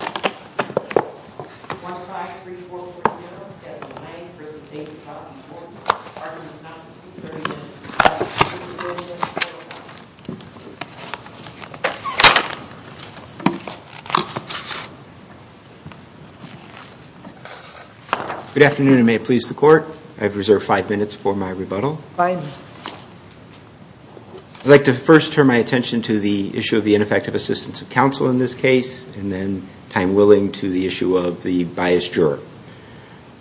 Good afternoon and may it please the court, I have reserved five minutes for my rebuttal. I'd like to first turn my attention to the issue of the ineffective assistance of counsel in this case and then I'm willing to the issue of the biased juror.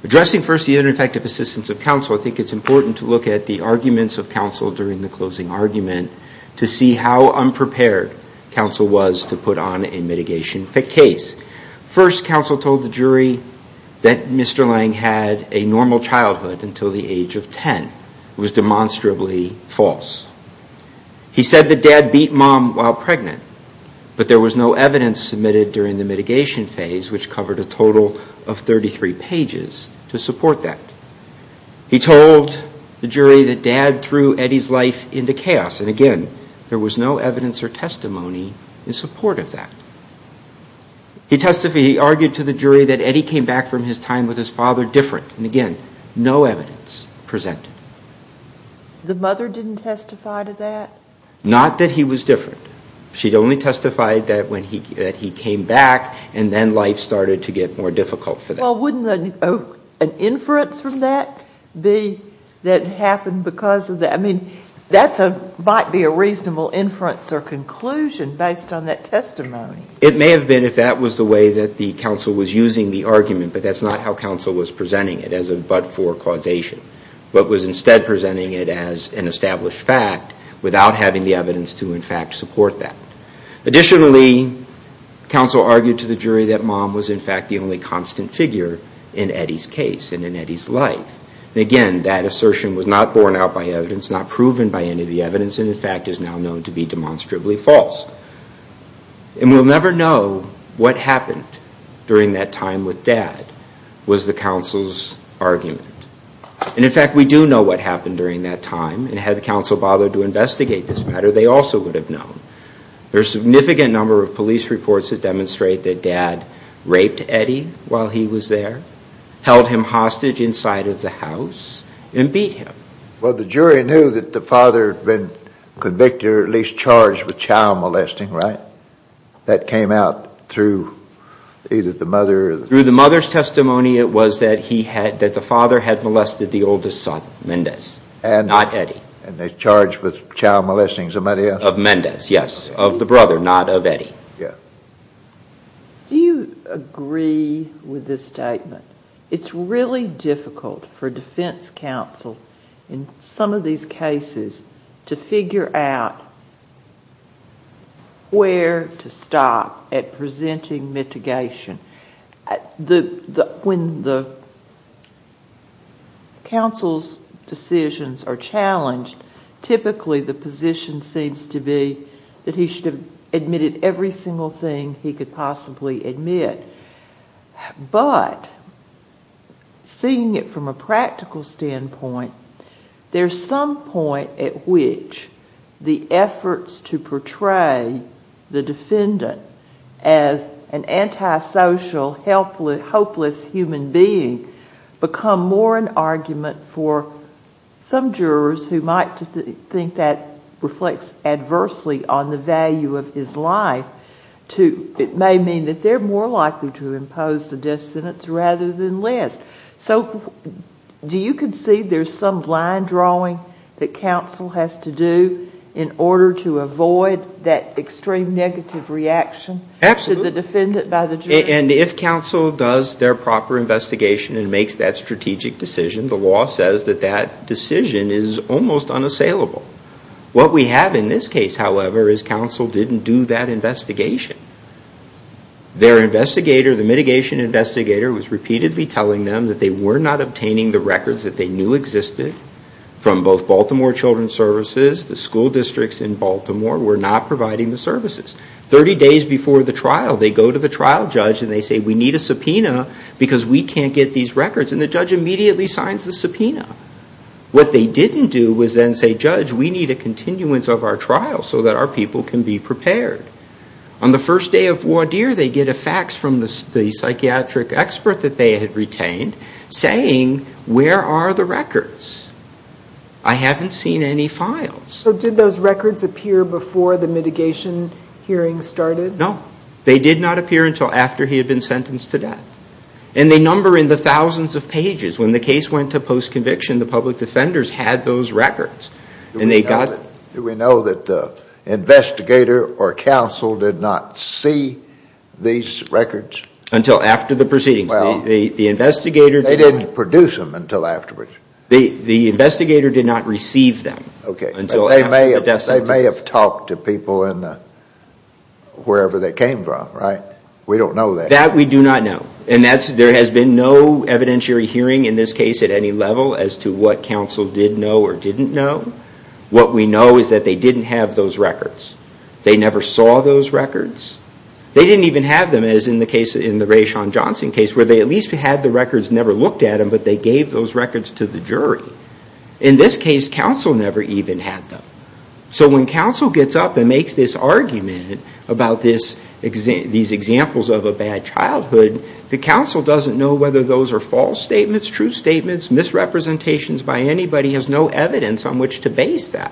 Addressing first the ineffective assistance of counsel, I think it's important to look at the arguments of counsel during the closing argument to see how unprepared counsel was to put on a mitigation case. First counsel told the jury that Mr. Lang had a normal childhood until the age of 10. It was demonstrably false. He said that dad beat mom while pregnant but there was no evidence submitted during the mitigation phase which covered a total of 33 pages to support that. He told the jury that dad threw Eddie's life into chaos and again there was no evidence or testimony in support of that. He argued to the jury that Eddie came back from his time with his father different and again no evidence presented. The mother didn't testify to that? Not that he was different. She had only testified that when he came back and then life started to get more difficult for them. Well, wouldn't an inference from that be that happened because of that? I mean, that might be a reasonable inference or conclusion based on that testimony. It may have been if that was the way that the counsel was using the argument but that's not how counsel was presenting it as a but for causation. But was instead presenting it as an established fact without having the evidence to in fact support that. Additionally, counsel argued to the jury that mom was in fact the only constant figure in Eddie's case and in Eddie's life. Again that assertion was not borne out by evidence, not proven by any of the evidence and in fact is now known to be demonstrably false and we'll never know what happened during that time with dad was the counsel's argument. And in fact we do know what happened during that time and had the counsel bothered to investigate this matter they also would have known. There's significant number of police reports that demonstrate that dad raped Eddie while he was there, held him hostage inside of the house and beat him. Well the jury knew that the father had been convicted or at least charged with child molesting, right? That came out through either the mother or the... Through the mother's testimony it was that the father had molested the oldest son, Mendez, not Eddie. And they charged with child molesting somebody else? Of Mendez, yes. Of the brother, not of Eddie. Yeah. Do you agree with this statement? It's really difficult for defense counsel in some of these cases to figure out where to stop at presenting mitigation. When the counsel's decisions are challenged typically the position seems to be that he should have admitted every single thing he could possibly admit. But, seeing it from a practical standpoint, there's some point at which the efforts to portray the defendant as an antisocial, helpless, hopeless human being become more an argument for some jurors who might think that reflects adversely on the value of his life. It may mean that they're more likely to impose the death sentence rather than list. So do you concede there's some line drawing that counsel has to do in order to avoid that extreme negative reaction to the defendant by the jury? And if counsel does their proper investigation and makes that strategic decision, the law says that that decision is almost unassailable. What we have in this case, however, is counsel didn't do that investigation. Their investigator, the mitigation investigator, was repeatedly telling them that they were not obtaining the records that they knew existed from both Baltimore Children's Services, the school districts in Baltimore, were not providing the services. Thirty days before the trial, they go to the trial judge and they say, we need a subpoena because we can't get these records. And the judge immediately signs the subpoena. What they didn't do was then say, judge, we need a continuance of our trial so that our people can be prepared. On the first day of voir dire, they get a fax from the psychiatric expert that they had retained saying, where are the records? I haven't seen any files. So did those records appear before the mitigation hearing started? No. They did not appear until after he had been sentenced to death. And they number in the thousands of pages. When the case went to post-conviction, the public defenders had those records and they got Do we know that the investigator or counsel did not see these records? Until after the proceedings. The investigator They didn't produce them until afterwards. The investigator did not receive them until after the death sentence. They may have talked to people wherever they came from, right? We don't know that. That we do not know. And there has been no evidentiary hearing in this case at any level as to what counsel did know or didn't know. What we know is that they didn't have those records. They never saw those records. They didn't even have them as in the Raishan Johnson case where they at least had the records and never looked at them, but they gave those records to the jury. In this case, counsel never even had them. So when counsel gets up and makes this argument about these examples of a bad childhood, the counsel doesn't know whether those are false statements, true statements, misrepresentations by anybody, has no evidence on which to base that.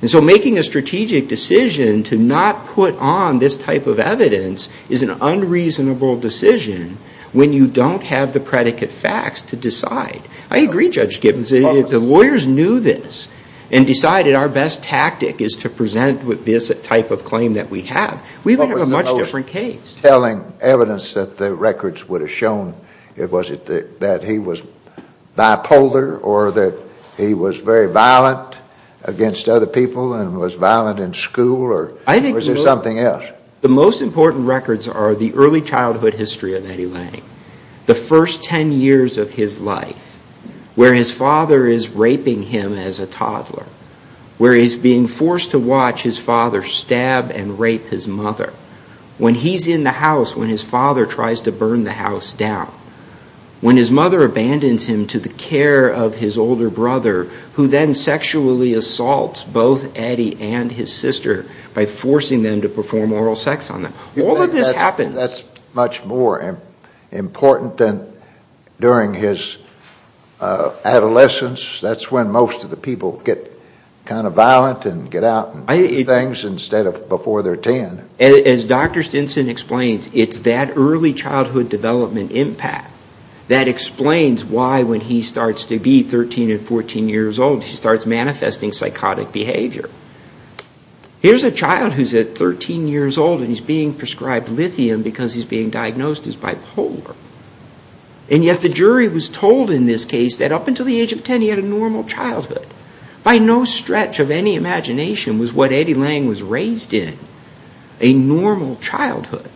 And so making a strategic decision to not put on this type of evidence is an unreasonable decision when you don't have the predicate facts to decide. I agree, Judge Gibbons. The lawyers knew this and decided our best tactic is to present with this type of claim that we have. We have a much different case. Telling evidence that the records would have shown, was it that he was bipolar or that he was very violent against other people and was violent in school or was there something else? The most important records are the early childhood history of Eddie Lang. The first ten years of his life where his father is raping him as a toddler, where he's being forced to watch his father stab and rape his mother, when he's in the house when his father tries to burn the house down, when his mother abandons him to the care of his older brother who then sexually assaults both Eddie and his sister by forcing them to perform oral sex on them. All of this happens. That's much more important than during his adolescence. That's when most of the people get kind of violent and get out and do things instead of before they're ten. As Dr. Stinson explains, it's that early childhood development impact that explains why when he starts to be 13 and 14 years old, he starts manifesting psychotic behavior. Here's a child who's at 13 years old and he's being prescribed lithium because he's being diagnosed as bipolar. And yet the jury was told in this case that up until the age of ten he had a normal childhood. By no stretch of any imagination was what Eddie Lang was raised in a normal childhood.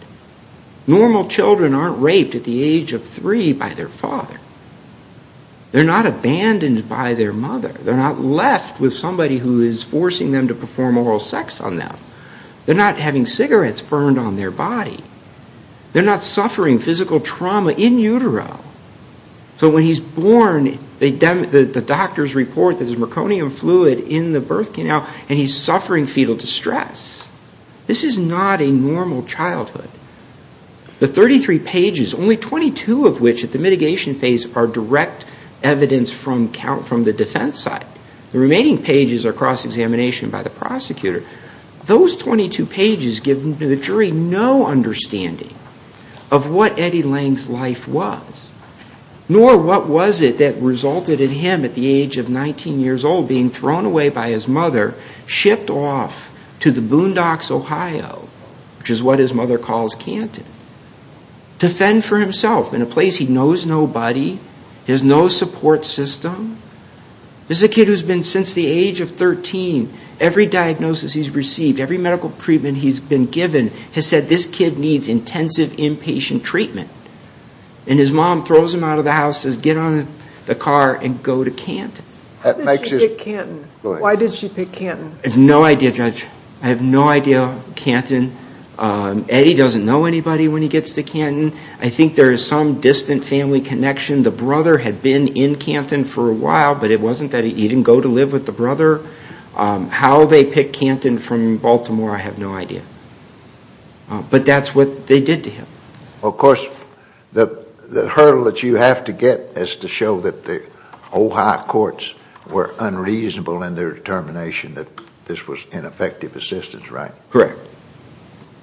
Normal children aren't raped at the age of three by their father. They're not abandoned by their mother. They're not left with somebody who is forcing them to perform oral sex on them. They're not having cigarettes burned on their body. They're not suffering physical trauma in utero. So when he's born, the doctors report that there's meconium fluid in the birth canal and he's suffering fetal distress. This is not a normal childhood. The 33 pages, only 22 of which at the mitigation phase are direct evidence from the defense side. The remaining pages are cross-examination by the prosecutor. Those 22 pages give the jury no understanding of what Eddie Lang's life was, nor what was it that resulted in him at the age of 19 years old being thrown away by his mother, shipped off to the boondocks, Ohio, which is what his mother calls Canton, to fend for himself in a place he knows nobody, has no support system. This is a kid who's been, since the age of 13, every diagnosis he's received, every medical treatment he's been given has said, this kid needs intensive inpatient treatment. And his mom throws him out of the house, says, get out of the car and go to Canton. Why did she pick Canton? I have no idea, Judge. I have no idea, Canton. Eddie doesn't know anybody when he gets to Canton. I think there is some distant family connection. The brother had been in Canton for a while, but it wasn't that he didn't go to live with the brother. How they picked Canton from Baltimore, I have no idea. But that's what they did to him. Of course, the hurdle that you have to get is to show that the Ohio courts were unreasonable in their determination that this was ineffective assistance, right? Correct.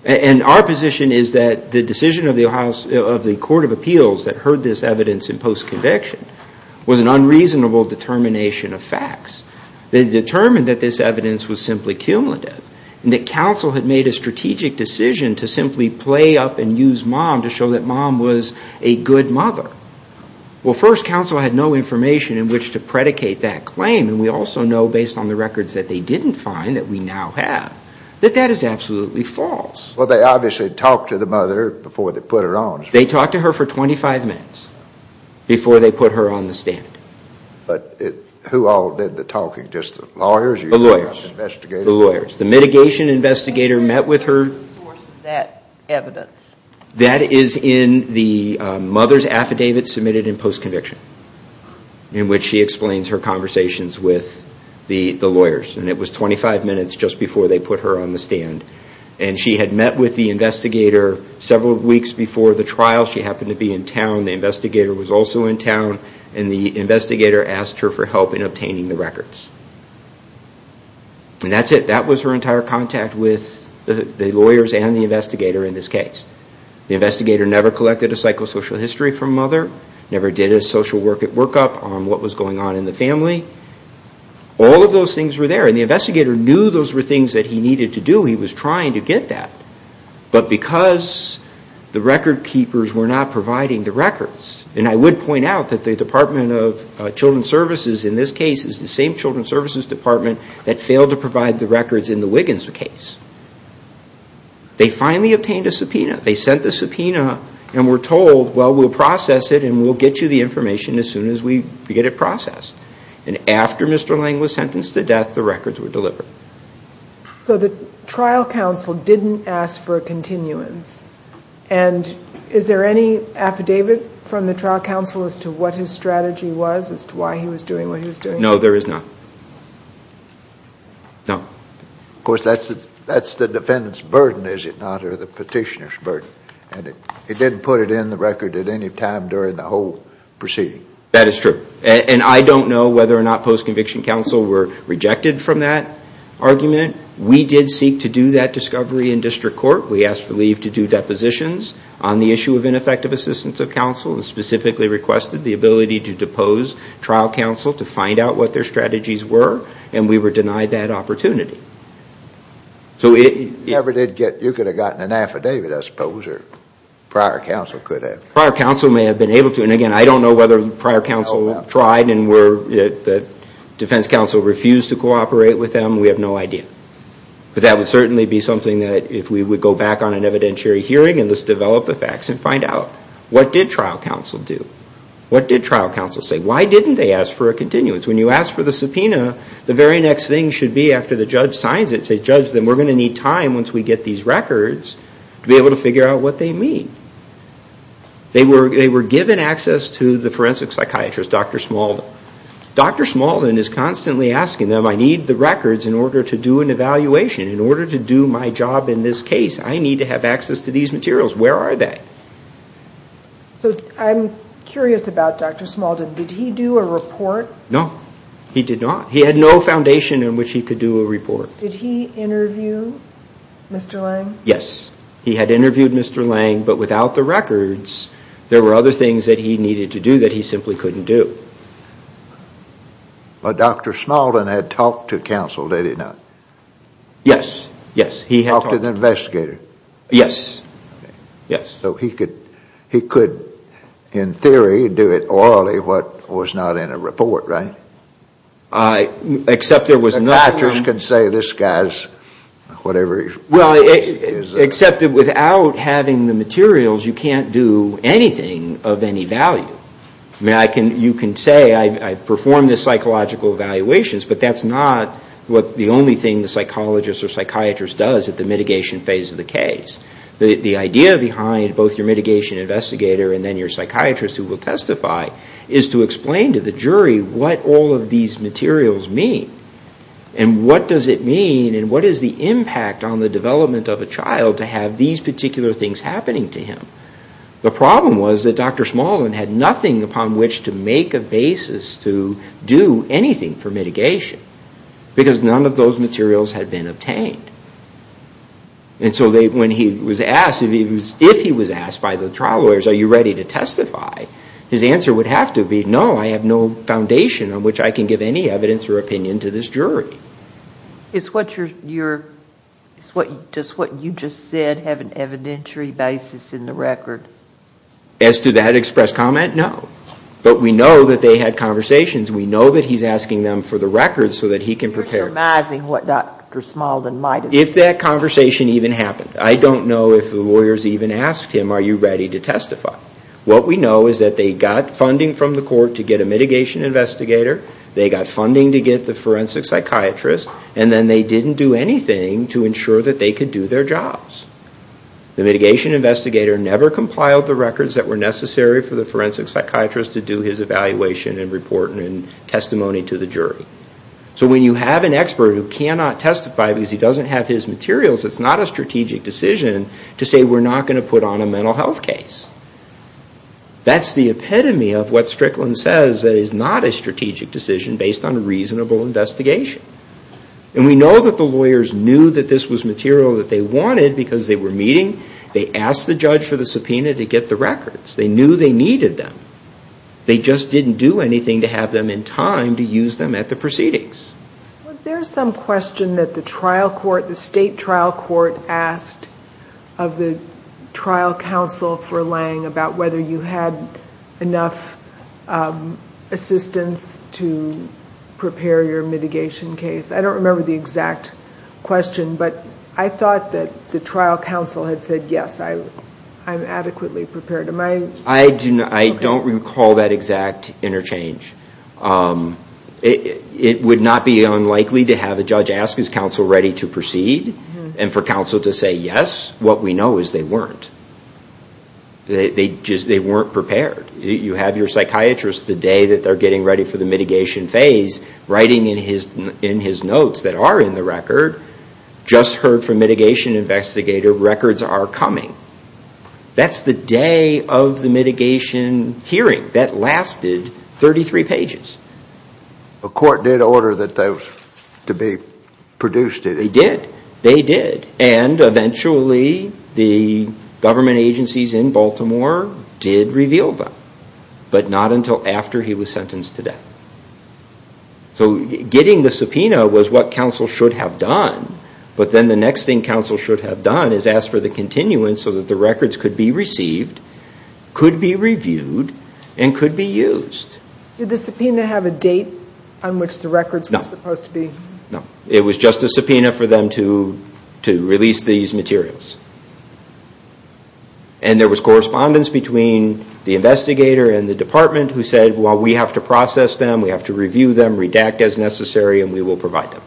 And our position is that the decision of the Ohio, of the Court of Appeals that heard this evidence in post-conviction was an unreasonable determination of facts. They determined that this evidence was simply cumulative, and that counsel had made a strategic decision to simply play up and use mom to show that mom was a good mother. Well, first, counsel had no information in which to predicate that claim, and we also know based on the records that they didn't find that we now have, that that is absolutely false. Well, they obviously talked to the mother before they put her on. They talked to her for 25 minutes before they put her on the stand. But who all did the talking? Just the lawyers? The lawyers. The investigators? The lawyers. The mitigation investigator met with her. Where is the source of that evidence? That is in the mother's affidavit submitted in post-conviction, in which she explains her conversations with the lawyers, and it was 25 minutes just before they put her on the stand. And she had met with the investigator several weeks before the trial. She happened to be in town. The investigator was also in town, and the investigator asked her for help in obtaining the records. And that's it. That was her entire contact with the lawyers and the investigator in this case. The investigator never collected a psychosocial history from mother, never did a social workup on what was going on in the family. All of those things were there, and the investigator knew those were things that he needed to do. He was trying to get that. But because the record keepers were not providing the records, and I would point out that the Department of Children's Services in this case is the same Children's Services Department that failed to provide the records in the Wiggins case. They finally obtained a subpoena. They sent the subpoena and were told, well, we'll process it and we'll get you the information as soon as we get it processed. And after Mr. Lang was sentenced to death, the records were delivered. So the trial counsel didn't ask for a continuance. And is there any affidavit from the trial counsel as to what his strategy was, as to why he was doing what he was doing? No, there is not. No. Of course, that's the defendant's burden, is it not, or the petitioner's burden. And he didn't put it in the record at any time during the whole proceeding. That is true. And I don't know whether or not post-conviction counsel were rejected from that argument. We did seek to do that discovery in district court. We asked for leave to do depositions on the issue of ineffective assistance of counsel and specifically requested the ability to depose trial counsel to find out what their strategies were, and we were denied that opportunity. So it... Never did get... You could have gotten an affidavit, I suppose, or prior counsel could have. Prior counsel may have been able to. And again, I don't know whether prior counsel tried and the defense counsel refused to cooperate with them. We have no idea. But that would certainly be something that if we would go back on an evidentiary hearing and just develop the facts and find out, what did trial counsel do? What did trial counsel say? Why didn't they ask for a continuance? When you ask for the subpoena, the very next thing should be after the judge signs it, says, judge, then we're going to need time once we get these records to be able to figure out what they mean. They were given access to the forensic psychiatrist, Dr. Smaldon. Dr. Smaldon is constantly asking them, I need the records in order to do an evaluation, in order to do my job in this case, I need to have access to these materials. Where are they? So I'm curious about Dr. Smaldon, did he do a report? No. He did not. He had no foundation in which he could do a report. Did he interview Mr. Lange? Yes. He had interviewed Mr. Lange, but with the help of a lawyer. Without the records, there were other things that he needed to do that he simply couldn't do. But Dr. Smaldon had talked to counsel, did he not? Yes. Yes. He had talked. Talked to the investigator? Yes. Yes. So he could, in theory, do it orally, what was not in a report, right? Except there was no... Psychiatrist can say, this guy's, whatever he's... Well, except that without having the materials, you can't do anything of any value. You can say, I performed the psychological evaluations, but that's not the only thing the psychologist or psychiatrist does at the mitigation phase of the case. The idea behind both your mitigation investigator and then your psychiatrist who will testify is to explain to the jury what all of these materials mean, and what does it mean, and what is the impact on the development of a child to have these particular things happening to him? The problem was that Dr. Smaldon had nothing upon which to make a basis to do anything for mitigation, because none of those materials had been obtained. And so when he was asked, if he was asked by the trial lawyers, are you ready to testify? His answer would have to be, no, I have no foundation on which I can give any evidence or opinion to this jury. Is what you just said have an evidentiary basis in the record? As to that expressed comment, no. But we know that they had conversations, we know that he's asking them for the records so that he can prepare. You're surmising what Dr. Smaldon might have said. If that conversation even happened. I don't know if the lawyers even asked him, are you ready to testify? What we know is that they got funding from the court to get a mitigation investigator, they got funding to get the forensic psychiatrist, and then they didn't do anything to ensure that they could do their jobs. The mitigation investigator never compiled the records that were necessary for the forensic psychiatrist to do his evaluation and report and testimony to the jury. So when you have an expert who cannot testify because he doesn't have his materials, it's not a strategic decision to say we're not going to put on a mental health case. That's the epitome of what Strickland says, that it's not a strategic decision based on a reasonable investigation. And we know that the lawyers knew that this was material that they wanted because they were meeting, they asked the judge for the subpoena to get the records. They knew they needed them. They just didn't do anything to have them in time to use them at the proceedings. Was there some question that the trial court, the state trial court asked of the trial counsel for Lange about whether you had enough assistance to prepare your mitigation case? I don't remember the exact question, but I thought that the trial counsel had said yes, I'm adequately prepared. I don't recall that exact interchange. It would not be unlikely to have a judge ask his counsel ready to proceed and for counsel to say yes. What we know is they weren't. They weren't prepared. You have your psychiatrist the day that they're getting ready for the mitigation phase, writing in his notes that are in the record, just heard from mitigation investigator, records are coming. That's the day of the mitigation hearing. That lasted 33 pages. A court did order that those to be produced, did it? They did. And eventually the government agencies in Baltimore did reveal them, but not until after he was sentenced to death. Getting the subpoena was what counsel should have done, but then the next thing counsel should have done is ask for the continuance so that the records could be received, could be reviewed, and could be used. Did the subpoena have a date on which the records were supposed to be? No. It was just a subpoena for them to release these materials. And there was correspondence between the investigator and the department who said, well, we have to process them. We have to review them, redact as necessary, and we will provide them.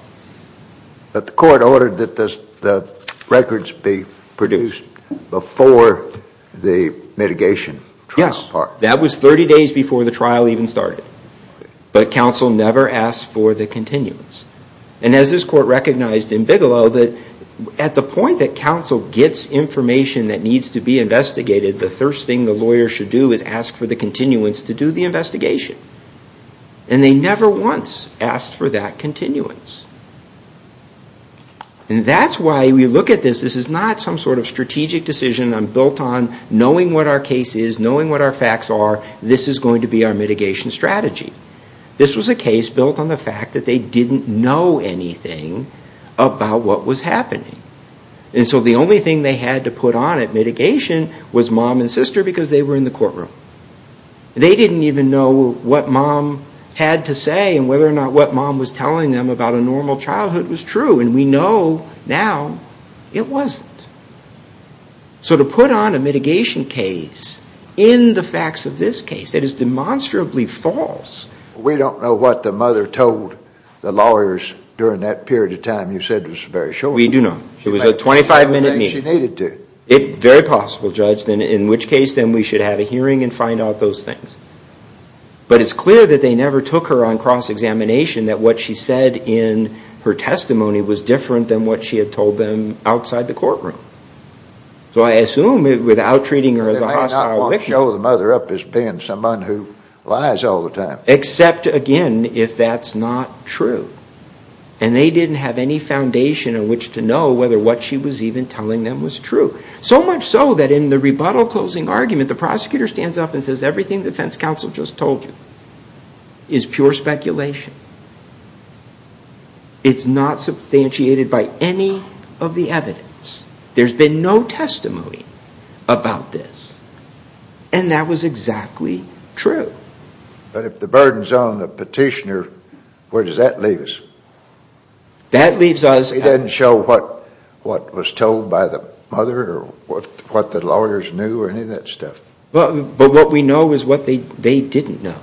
But the court ordered that the records be produced before the mitigation trial part. Yes. That was 30 days before the trial even started. But counsel never asked for the continuance. And as this court recognized in Bigelow, that at the point that counsel gets information that needs to be investigated, the first thing the lawyer should do is ask for the continuance to do the investigation. And they never once asked for that continuance. And that's why we look at this, this is not some sort of strategic decision built on knowing what our case is, knowing what our facts are, this is going to be our mitigation strategy. This was a case built on the fact that they didn't know anything about what was happening. And so the only thing they had to put on at mitigation was mom and sister because they were in the courtroom. They didn't even know what mom had to say and whether or not what mom was telling them about a normal childhood was true, and we know now it wasn't. So to put on a mitigation case in the facts of this case, that is demonstrably false. We don't know what the mother told the lawyers during that period of time you said was very short. We do know. It was a 25-minute meeting. She needed to. Very possible, Judge, in which case then we should have a hearing and find out those things. But it's clear that they never took her on cross-examination, that what she said in her courtroom. So I assume without treating her as a hostile victim, except again if that's not true. And they didn't have any foundation in which to know whether what she was even telling them was true. So much so that in the rebuttal closing argument, the prosecutor stands up and says everything the defense counsel just told you is pure speculation. It's not substantiated by any of the evidence. There's been no testimony about this. And that was exactly true. But if the burden's on the petitioner, where does that leave us? That leaves us. It doesn't show what was told by the mother or what the lawyers knew or any of that stuff. But what we know is what they didn't know.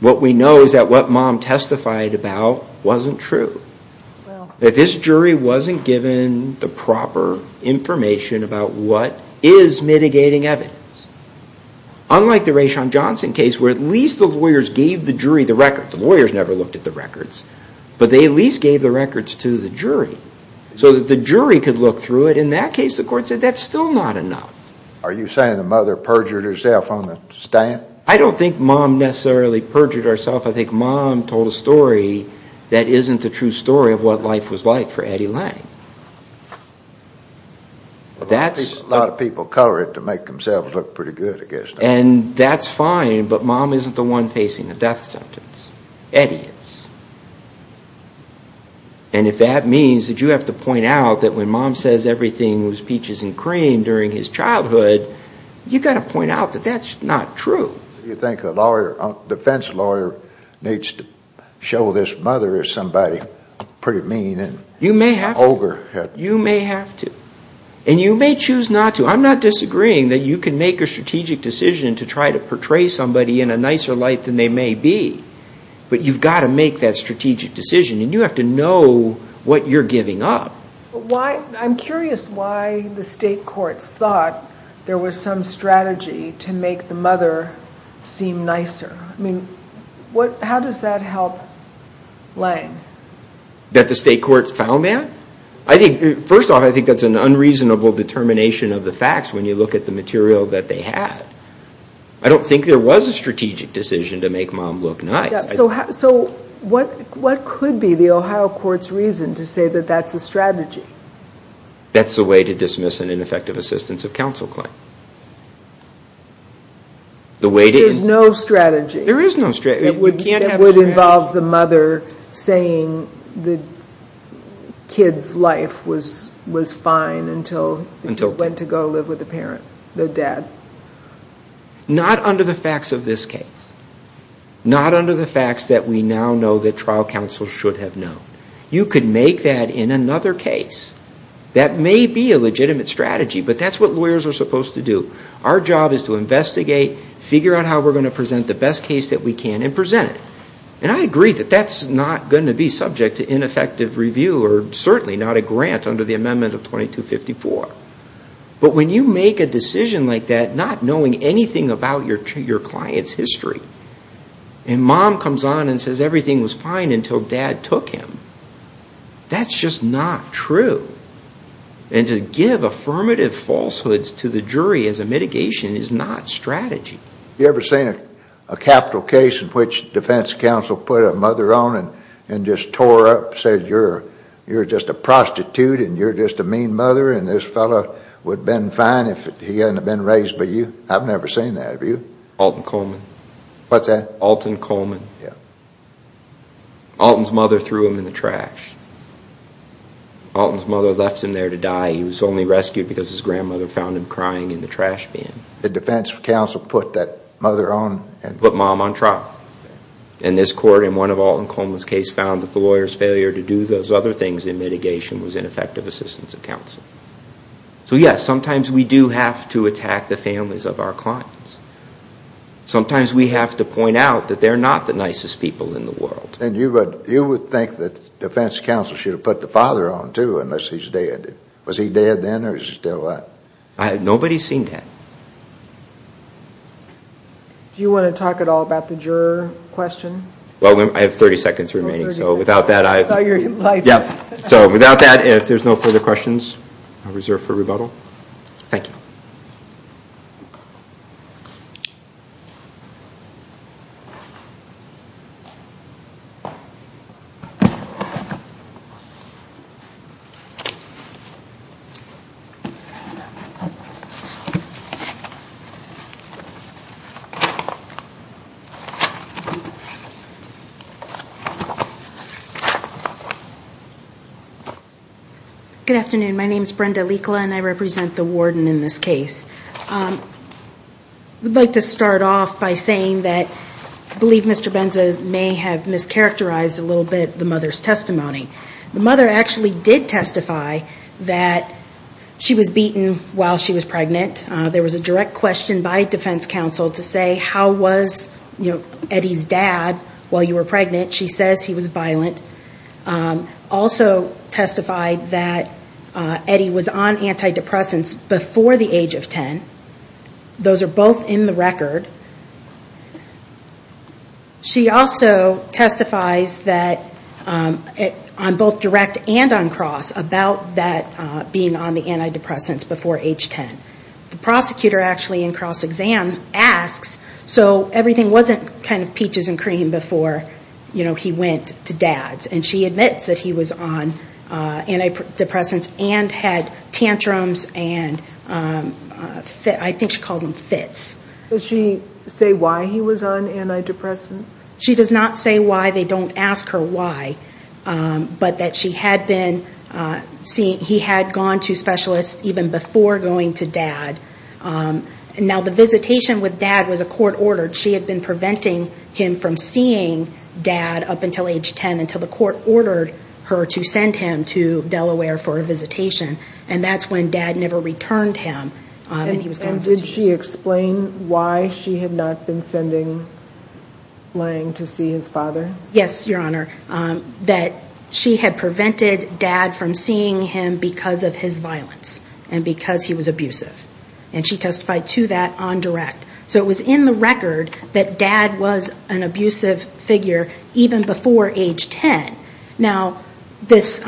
What we know is that what mom testified about wasn't true. That this jury wasn't given the proper information about what is mitigating evidence. Unlike the Raishon Johnson case where at least the lawyers gave the jury the records. The lawyers never looked at the records. But they at least gave the records to the jury so that the jury could look through it. In that case the court said that's still not enough. Are you saying the mother perjured herself on the stand? I don't think mom necessarily perjured herself. I think mom told a story that isn't the true story of what life was like for Eddie Lange. A lot of people color it to make themselves look pretty good, I guess. And that's fine, but mom isn't the one facing the death sentence, Eddie is. And if that means that you have to point out that when mom says everything was peaches and cream during his childhood, you've got to point out that that's not true. You think a defense lawyer needs to show this mother is somebody pretty mean and ogre? You may have to. You may have to. And you may choose not to. I'm not disagreeing that you can make a strategic decision to try to portray somebody in a nicer light than they may be. But you've got to make that strategic decision. And you have to know what you're giving up. I'm curious why the state courts thought there was some strategy to make the mother seem nicer. I mean, how does that help Lange? That the state courts found that? I think, first off, I think that's an unreasonable determination of the facts when you look at the material that they had. I don't think there was a strategic decision to make mom look nice. So what could be the Ohio court's reason to say that that's a strategy? That's the way to dismiss an ineffective assistance of counsel claim. There is no strategy. There is no strategy. It would involve the mother saying the kid's life was fine until he went to go live with the parent, the dad. Not under the facts of this case. Not under the facts that we now know that trial counsel should have known. You could make that in another case. That may be a legitimate strategy, but that's what lawyers are supposed to do. Our job is to investigate, figure out how we're going to present the best case that we can, and present it. And I agree that that's not going to be subject to ineffective review or certainly not a grant under the amendment of 2254. But when you make a decision like that, not knowing anything about your client's history, and mom comes on and says everything was fine until dad took him, that's just not true. And to give affirmative falsehoods to the jury as a mitigation is not strategy. You ever seen a capital case in which defense counsel put a mother on and just tore up, and said you're just a prostitute, and you're just a mean mother, and this fellow would have been fine if he hadn't been raised by you? I've never seen that, have you? Alton Coleman. What's that? Alton Coleman. Yeah. Alton's mother threw him in the trash. Alton's mother left him there to die. He was only rescued because his grandmother found him crying in the trash bin. The defense counsel put that mother on? Put mom on trial. And this court, in one of Alton Coleman's cases, found that the lawyer's failure to do those other things in mitigation was ineffective assistance of counsel. So yes, sometimes we do have to attack the families of our clients. Sometimes we have to point out that they're not the nicest people in the world. And you would think that defense counsel should have put the father on too, unless he's dead. Was he dead then, or is he still alive? Nobody's seen that. Do you want to talk at all about the juror question? Well, I have 30 seconds remaining. So without that, if there's no further questions, I'll reserve for rebuttal. Thank you. Good afternoon. My name is Brenda Likla, and I represent the warden in this case. I'd like to start off by saying that I believe Mr. Benza may have mischaracterized a little bit the mother's testimony. The mother actually did testify that she was beaten while she was pregnant. There was a direct question by defense counsel to say, how was Eddie's dad while you were pregnant? She says he was violent. Also testified that Eddie was on antidepressants before the age of 10. Those are both in the record. She also testifies that, on both direct and on cross, about that being on the antidepressants before age 10. The prosecutor actually in cross-exam asks, so everything wasn't kind of peaches and cream before, you know, he went to dad's. And she admits that he was on antidepressants and had tantrums and, I think she called them fits. Does she say why he was on antidepressants? She does not say why. They don't ask her why. But that she had been, he had gone to specialists even before going to dad. Now, the visitation with dad was a court order. She had been preventing him from seeing dad up until age 10, until the court ordered her to send him to Delaware for a visitation. And that's when dad never returned him. And did she explain why she had not been sending Lange to see his father? Yes, your honor. That she had prevented dad from seeing him because of his violence and because he was abusive. And she testified to that on direct. So it was in the record that dad was an abusive figure even before age 10. Now, this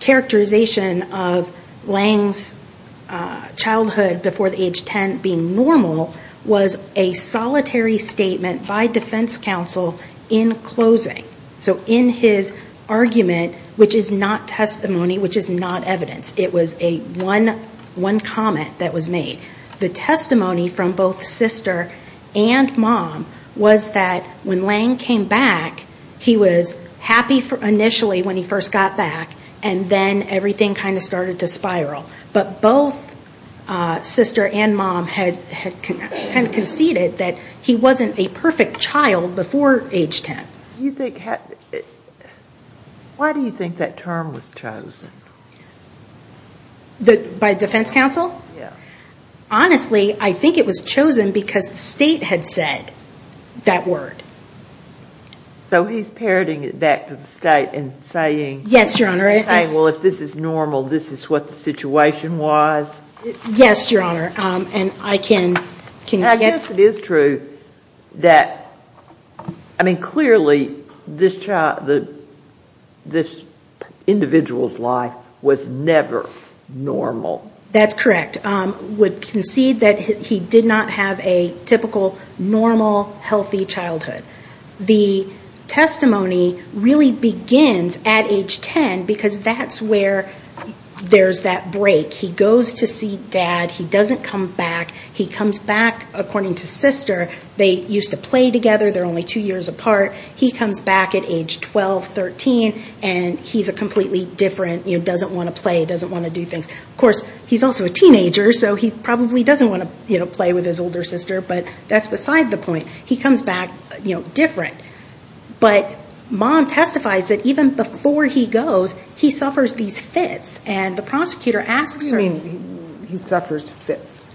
characterization of Lange's childhood before age 10 being normal was a solitary statement by defense counsel in closing. So in his argument, which is not testimony, which is not evidence. It was a one comment that was made. The testimony from both sister and mom was that when Lange came back, he was happy initially when he first got back. And then everything kind of started to spiral. But both sister and mom had kind of conceded that he wasn't a perfect child before age 10. Why do you think that term was chosen? By defense counsel? Honestly, I think it was chosen because the state had said that word. So he's parroting it back to the state and saying, well, if this is normal, this is what the situation was. Yes, your honor. And I guess it is true that, I mean, clearly this individual's life was never normal. That's correct. Would concede that he did not have a typical, normal, healthy childhood. The testimony really begins at age 10 because that's where there's that break. He goes to see dad. He doesn't come back. He comes back, according to sister, they used to play together. They're only two years apart. He comes back at age 12, 13, and he's a completely different, doesn't want to play, doesn't want to do things. Of course, he's also a teenager, so he probably doesn't want to play with his older sister. But that's beside the point. He comes back different. But mom testifies that even before he goes, he suffers these fits. And the prosecutor asks her. What do you mean he suffers fits?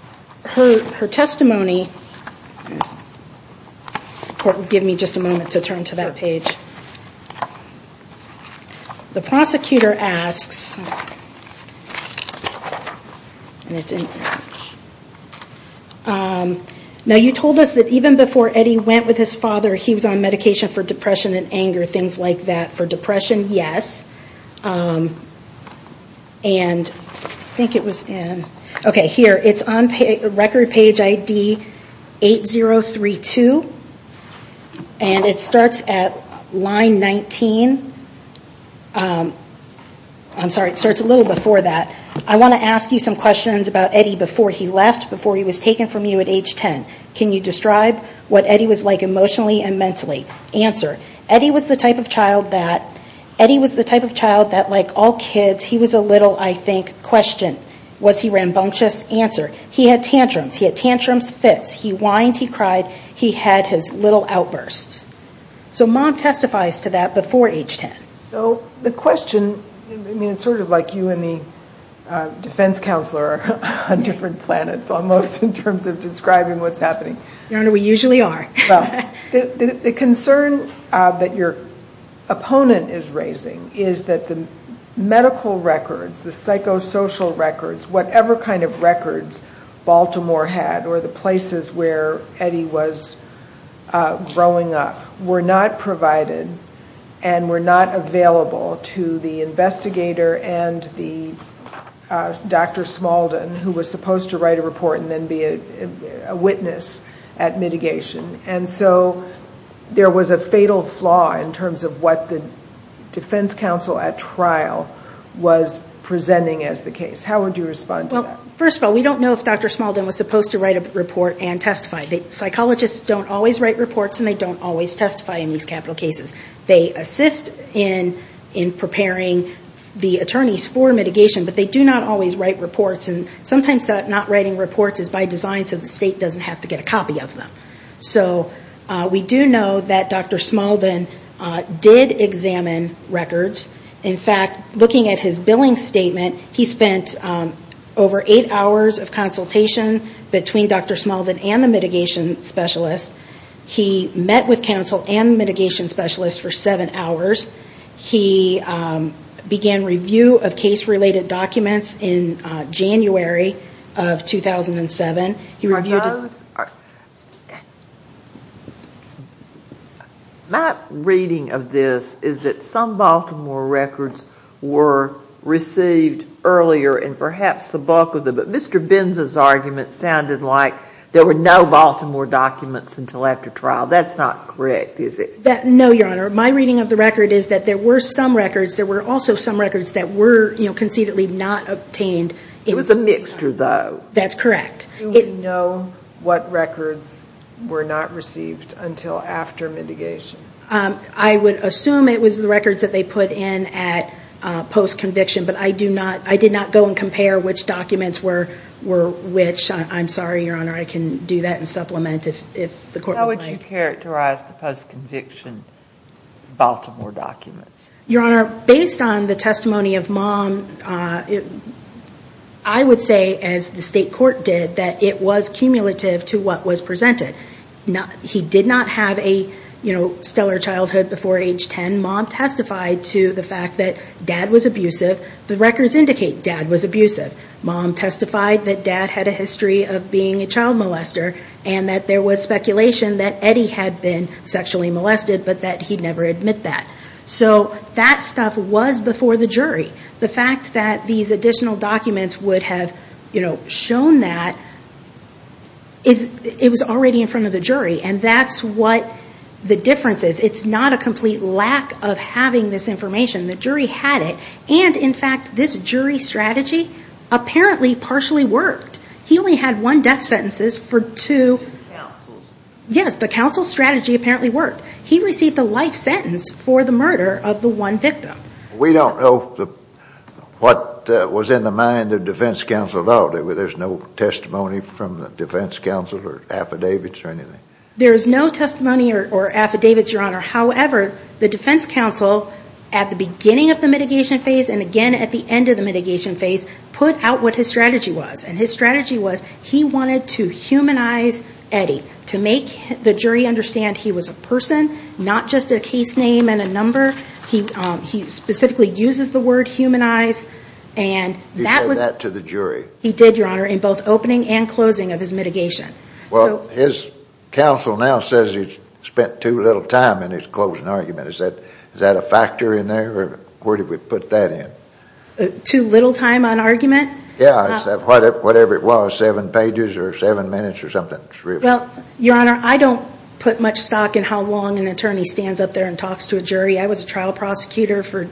Her testimony. Give me just a moment to turn to that page. The prosecutor asks, and it's in English. Now, you told us that even before Eddie went with his father, he was on medication for depression and anger, things like that. For depression, yes. And I think it was in, okay, here. It's on record page ID 8032. And it starts at line 19. I'm sorry, it starts a little before that. I want to ask you some questions about Eddie before he left, before he was taken from you at age 10. Can you describe what Eddie was like emotionally and mentally? Answer. Eddie was the type of child that, like all kids, he was a little, I think, question. Was he rambunctious? Answer. He had tantrums. He had tantrums, fits. He whined. He cried. He had his little outbursts. So Mom testifies to that before age 10. So the question, I mean, it's sort of like you and the defense counselor on different planets, almost, in terms of describing what's happening. Your Honor, we usually are. The concern that your opponent is raising is that the medical records, the psychosocial records, whatever kind of records Baltimore had or the places where Eddie was growing up, were not provided and were not available to the investigator and the Dr. Smaldon, who was supposed to write a report and then be a witness at mitigation. And so there was a fatal flaw in terms of what the defense counsel at trial was presenting as the case. How would you respond to that? Well, first of all, we don't know if Dr. Smaldon was supposed to write a report and testify. Psychologists don't always write reports and they don't always testify in these capital cases. They assist in preparing the attorneys for mitigation, but they do not always write reports and sometimes not writing reports is by design so the state doesn't have to get a copy of them. So we do know that Dr. Smaldon did examine records. In fact, looking at his billing statement, he spent over eight hours of consultation between Dr. Smaldon and the mitigation specialist. He met with counsel and the mitigation specialist for seven hours. He began review of case-related documents in January of 2007. My reading of this is that some Baltimore records were received earlier and perhaps the bulk of them, but Mr. Binza's argument sounded like there were no Baltimore documents until after trial. That's not correct, is it? No, Your Honor. My reading of the record is that there were some records, there were also some records that were conceitedly not obtained. It was a mixture, though. That's correct. Do we know what records were not received until after mitigation? I would assume it was the records that they put in at post-conviction, but I did not go and compare which documents were which. I'm sorry, Your Honor. I can do that in supplement if the court would like. How would you characterize the post-conviction Baltimore documents? Your Honor, based on the testimony of Mom, I would say, as the state court did, that it was cumulative to what was presented. He did not have a stellar childhood before age 10. Mom testified to the fact that Dad was abusive. The records indicate Dad was abusive. Mom testified that Dad had a history of being a child molester and that there was speculation that Eddie had been sexually molested, but that he'd never admit that. So that stuff was before the jury. The fact that these additional documents would have shown that, it was already in front of the jury, and that's what the difference is. It's not a complete lack of having this information. The jury had it. And, in fact, this jury strategy apparently partially worked. He only had one death sentence for two. Yes, the counsel strategy apparently worked. He received a life sentence for the murder of the one victim. We don't know what was in the mind of defense counsel about it. There's no testimony from the defense counsel or affidavits or anything. There is no testimony or affidavits, Your Honor. However, the defense counsel, at the beginning of the mitigation phase and, again, at the end of the mitigation phase, put out what his strategy was. And his strategy was he wanted to humanize Eddie, to make the jury understand he was a person, not just a case name and a number. He specifically uses the word humanize. He said that to the jury. He did, Your Honor, in both opening and closing of his mitigation. Well, his counsel now says he spent too little time in his closing argument. Is that a factor in there, or where did we put that in? Too little time on argument? Yeah, whatever it was, seven pages or seven minutes or something. Well, Your Honor, I don't put much stock in how long an attorney stands up there and talks to a jury. I was a trial prosecutor for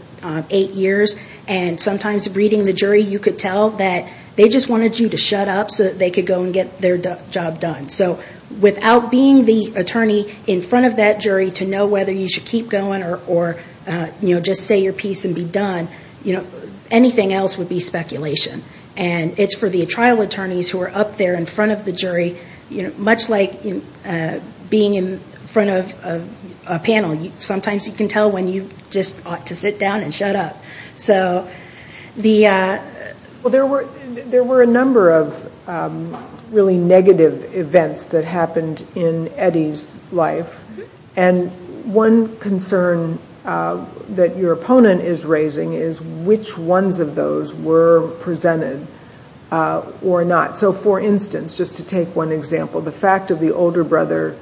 eight years, and sometimes reading the jury, you could tell that they just wanted you to shut up so that they could go and get their job done. So without being the attorney in front of that jury to know whether you should keep going or just say your piece and be done, anything else would be speculation. And it's for the trial attorneys who are up there in front of the jury, much like being in front of a panel. Sometimes you can tell when you just ought to sit down and shut up. Well, there were a number of really negative events that happened in Eddie's life. And one concern that your opponent is raising is which ones of those were presented or not. So, for instance, just to take one example, the fact of the older brother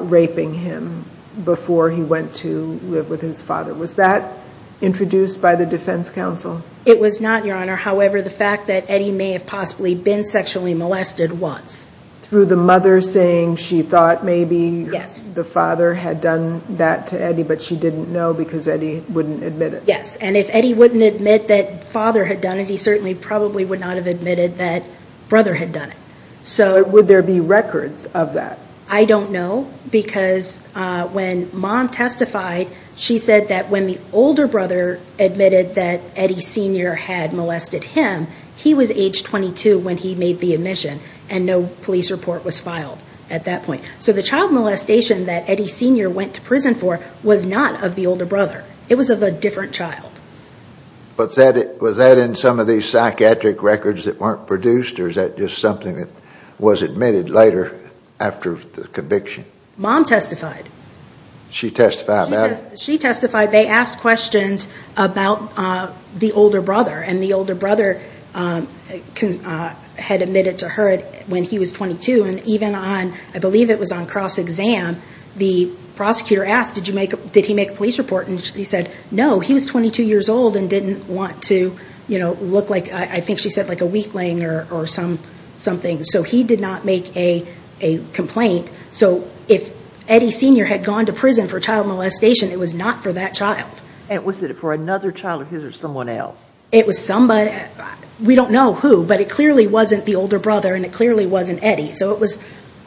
raping him before he went to live with his father, was that introduced by the defense counsel? It was not, Your Honor. However, the fact that Eddie may have possibly been sexually molested was. Through the mother saying she thought maybe the father had done that to Eddie, but she didn't know because Eddie wouldn't admit it? Yes. And if Eddie wouldn't admit that father had done it, he certainly probably would not have admitted that brother had done it. So would there be records of that? I don't know, because when mom testified, she said that when the older brother admitted that Eddie Sr. had molested him, he was age 22 when he made the admission, and no police report was filed at that point. So the child molestation that Eddie Sr. went to prison for was not of the older brother. It was of a different child. Was that in some of these psychiatric records that weren't produced, or is that just something that was admitted later after the conviction? Mom testified. She testified, ma'am? She testified. They asked questions about the older brother, and the older brother had admitted to her when he was 22. And even on, I believe it was on cross-exam, the prosecutor asked, did he make a police report? And he said, no, he was 22 years old and didn't want to look like, I think she said, like a weakling or something. So he did not make a complaint. So if Eddie Sr. had gone to prison for child molestation, it was not for that child. And was it for another child of his or someone else? It was somebody, we don't know who, but it clearly wasn't the older brother and it clearly wasn't Eddie. So it was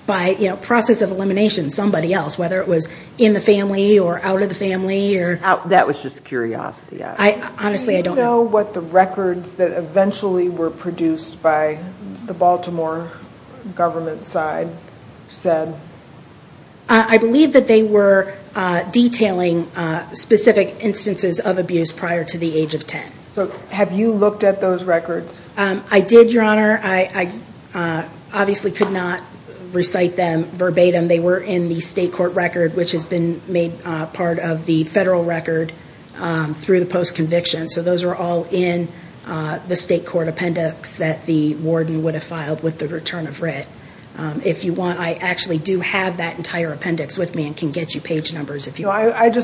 by process of elimination, somebody else, whether it was in the family or out of the family. That was just curiosity. Honestly, I don't know. Do you know what the records that eventually were produced by the Baltimore government side said? I believe that they were detailing specific instances of abuse prior to the age of 10. So have you looked at those records? I did, Your Honor. I obviously could not recite them verbatim. They were in the state court record, which has been made part of the federal record through the post-conviction. So those are all in the state court appendix that the warden would have filed with the return of writ. If you want, I actually do have that entire appendix with me and can get you page numbers if you want.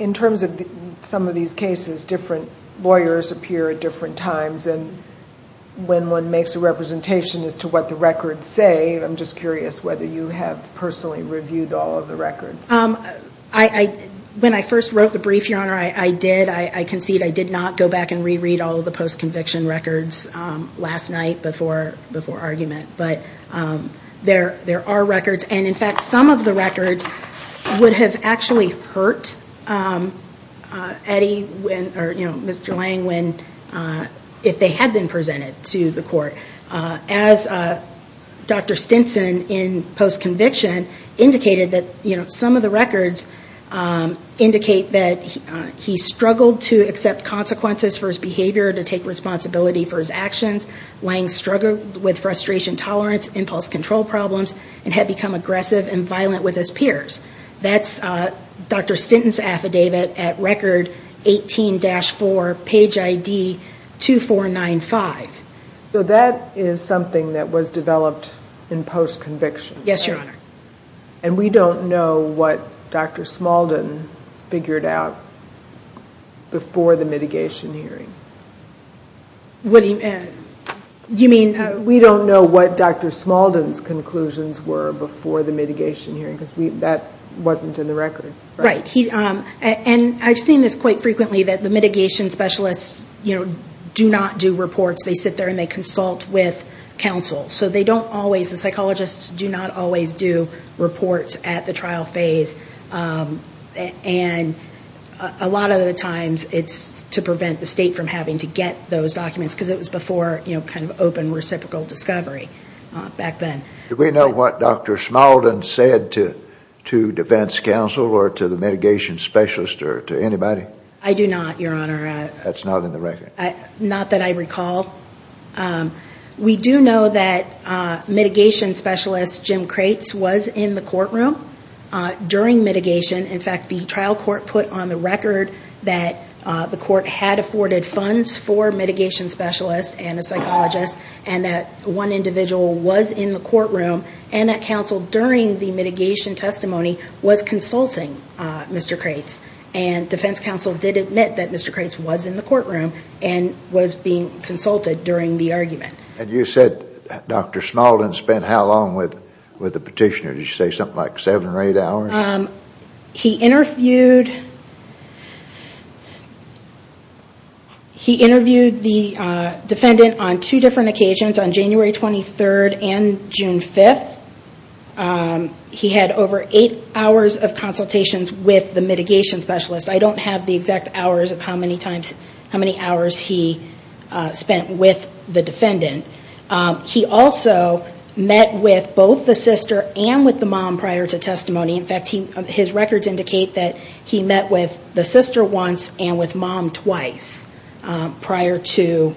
In terms of some of these cases, different lawyers appear at different times, and when one makes a representation as to what the records say, I'm just curious whether you have personally reviewed all of the records. When I first wrote the brief, Your Honor, I did. I concede I did not go back and re-read all of the post-conviction records last night before argument. But there are records, and in fact, some of the records would have actually hurt Mr. Lang if they had been presented to the court. As Dr. Stinson in post-conviction indicated, some of the records indicate that he struggled to accept consequences for his behavior, to take responsibility for his actions. Lang struggled with frustration tolerance, impulse control problems, and had become aggressive and violent with his peers. That's Dr. Stinson's affidavit at record 18-4, page ID 2495. So that is something that was developed in post-conviction? Yes, Your Honor. And we don't know what Dr. Smaldon figured out before the mitigation hearing. What do you mean? We don't know what Dr. Smaldon's conclusions were before the mitigation hearing, because that wasn't in the record. Right. And I've seen this quite frequently, that the mitigation specialists do not do reports. They sit there and they consult with counsel. So they don't always, the psychologists do not always do reports at the trial phase. And a lot of the times it's to prevent the state from having to get those documents, because it was before kind of open reciprocal discovery back then. Do we know what Dr. Smaldon said to defense counsel or to the mitigation specialist or to anybody? I do not, Your Honor. That's not in the record? Not that I recall. We do know that mitigation specialist Jim Kratz was in the courtroom during mitigation. In fact, the trial court put on the record that the court had afforded funds for mitigation specialists and a psychologist and that one individual was in the courtroom and that counsel during the mitigation testimony was consulting Mr. Kratz. And defense counsel did admit that Mr. Kratz was in the courtroom and was being consulted during the argument. And you said Dr. Smaldon spent how long with the petitioner? Did you say something like seven or eight hours? He interviewed the defendant on two different occasions, on January 23rd and June 5th. He had over eight hours of consultations with the mitigation specialist. I don't have the exact hours of how many hours he spent with the defendant. He also met with both the sister and with the mom prior to testimony. In fact, his records indicate that he met with the sister once and with mom twice prior to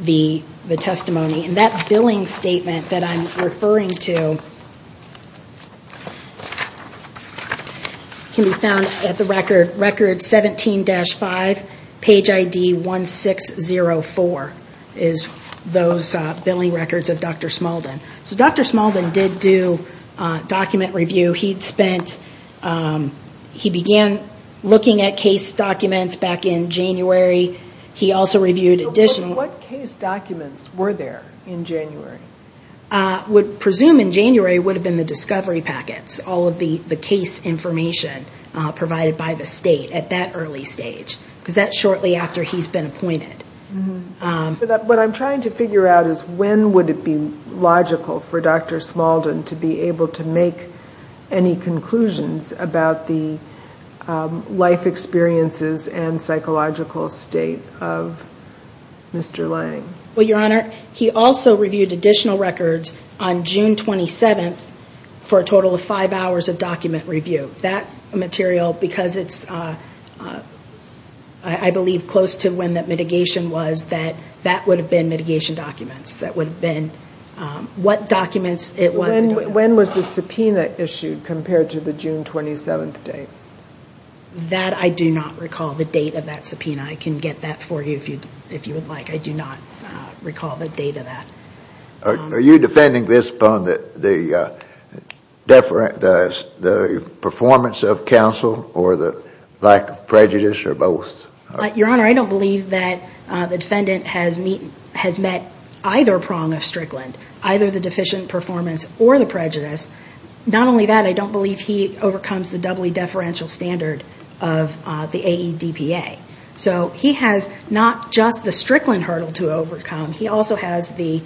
the testimony. And that billing statement that I'm referring to can be found at the record 17-5, page ID 1604, is those billing records of Dr. Smaldon. So Dr. Smaldon did do document review. He began looking at case documents back in January. What case documents were there in January? I would presume in January would have been the discovery packets, all of the case information provided by the state at that early stage. Because that's shortly after he's been appointed. What I'm trying to figure out is when would it be logical for Dr. Smaldon to be able to make any conclusions about the life experiences and psychological state of Mr. Lange? Well, Your Honor, he also reviewed additional records on June 27th for a total of five hours of document review. That material, because it's, I believe, close to when the mitigation was, that that would have been mitigation documents. That would have been what documents it was. When was the subpoena issued compared to the June 27th date? That I do not recall the date of that subpoena. I can get that for you if you would like. I do not recall the date of that. Are you defending this upon the performance of counsel or the lack of prejudice or both? Your Honor, I don't believe that the defendant has met either prong of Strickland, either the deficient performance or the prejudice. Not only that, I don't believe he overcomes the doubly deferential standard of the AEDPA. So he has not just the Strickland hurdle to overcome, he also has the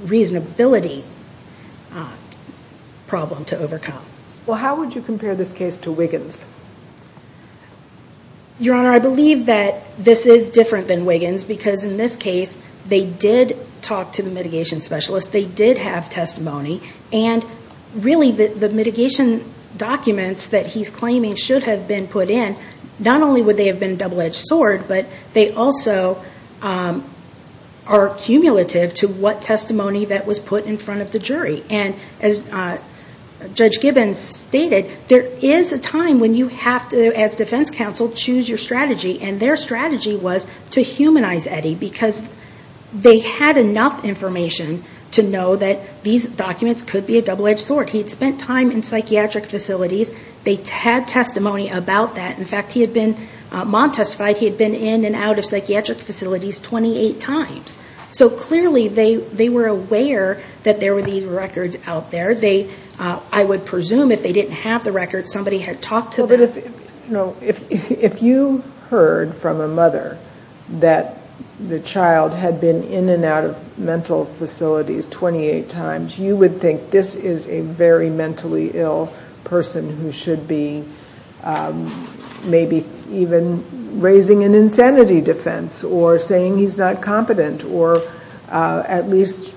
reasonability problem to overcome. Well, how would you compare this case to Wiggins? Your Honor, I believe that this is different than Wiggins, because in this case they did talk to the mitigation specialist, they did have testimony. And really the mitigation documents that he's claiming should have been put in, not only would they have been double-edged sword, but they also are cumulative to what testimony that was put in front of the jury. And as Judge Gibbons stated, there is a time when you have to, as defense counsel, choose your strategy. And their strategy was to humanize Eddie, because they had enough information to know that these documents could be a double-edged sword. He had spent time in psychiatric facilities. They had testimony about that. In fact, he had been, Maude testified, he had been in and out of psychiatric facilities 28 times. So clearly they were aware that there were these records out there. I would presume if they didn't have the records, somebody had talked to them. But if you heard from a mother that the child had been in and out of mental facilities 28 times, you would think this is a very mentally ill person who should be maybe even raising an insanity defense, or saying he's not competent, or at least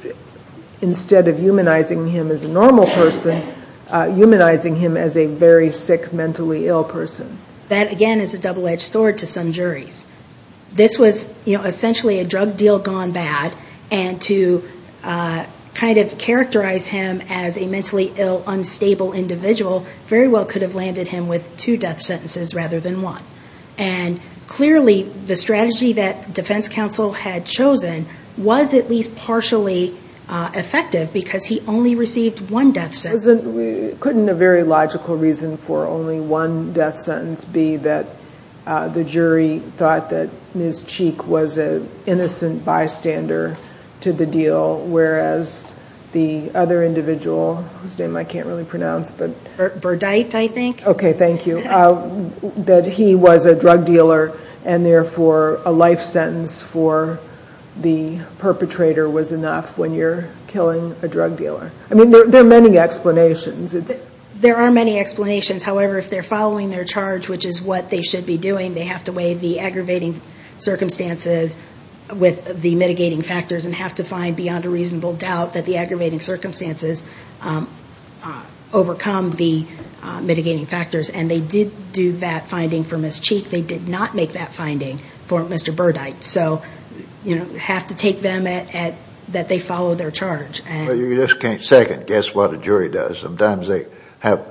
instead of humanizing him as a normal person, humanizing him as a very sick, mentally ill person. That, again, is a double-edged sword to some juries. This was essentially a drug deal gone bad, and to kind of characterize him as a mentally ill, unstable individual, very well could have landed him with two death sentences rather than one. And clearly the strategy that the defense counsel had chosen was at least partially effective because he only received one death sentence. Couldn't a very logical reason for only one death sentence be that the jury thought that Ms. Cheek was an innocent bystander to the deal, whereas the other individual, whose name I can't really pronounce. Burdite, I think. Okay, thank you. That he was a drug dealer, and therefore a life sentence for the perpetrator was enough when you're killing a drug dealer. I mean, there are many explanations. There are many explanations. However, if they're following their charge, which is what they should be doing, they have to weigh the aggravating circumstances with the mitigating factors and have to find beyond a reasonable doubt that the aggravating circumstances overcome the mitigating factors. And they did do that finding for Ms. Cheek. They did not make that finding for Mr. Burdite. So you have to take them at that they follow their charge. Well, you just can't second guess what a jury does. Sometimes they have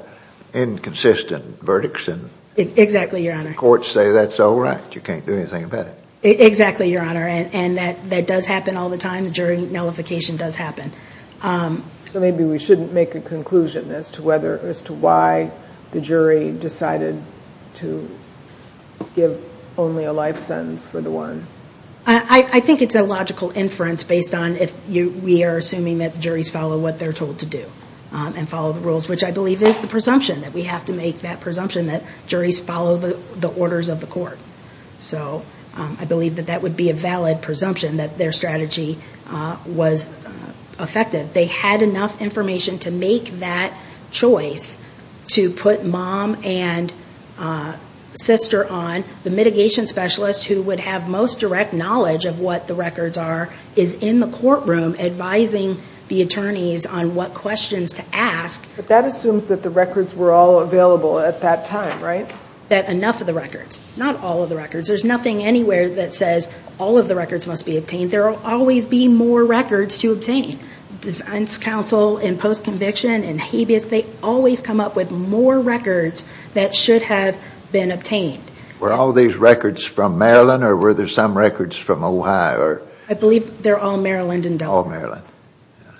inconsistent verdicts. Exactly, Your Honor. Courts say that's all right. You can't do anything about it. Exactly, Your Honor. And that does happen all the time. The jury nullification does happen. So maybe we shouldn't make a conclusion as to why the jury decided to give only a life sentence for the one. I think it's a logical inference based on if we are assuming that the juries follow what they're told to do and follow the rules, which I believe is the presumption, that we have to make that presumption that juries follow the orders of the court. So I believe that that would be a valid presumption that their strategy was effective. They had enough information to make that choice to put mom and sister on. The mitigation specialist who would have most direct knowledge of what the records are is in the courtroom advising the attorneys on what questions to ask. But that assumes that the records were all available at that time, right? That enough of the records. Not all of the records. There's nothing anywhere that says all of the records must be obtained. There will always be more records to obtain. Defense counsel in postconviction and habeas, they always come up with more records that should have been obtained. Were all these records from Maryland or were there some records from Ohio? I believe they're all Maryland and Delaware. All Maryland.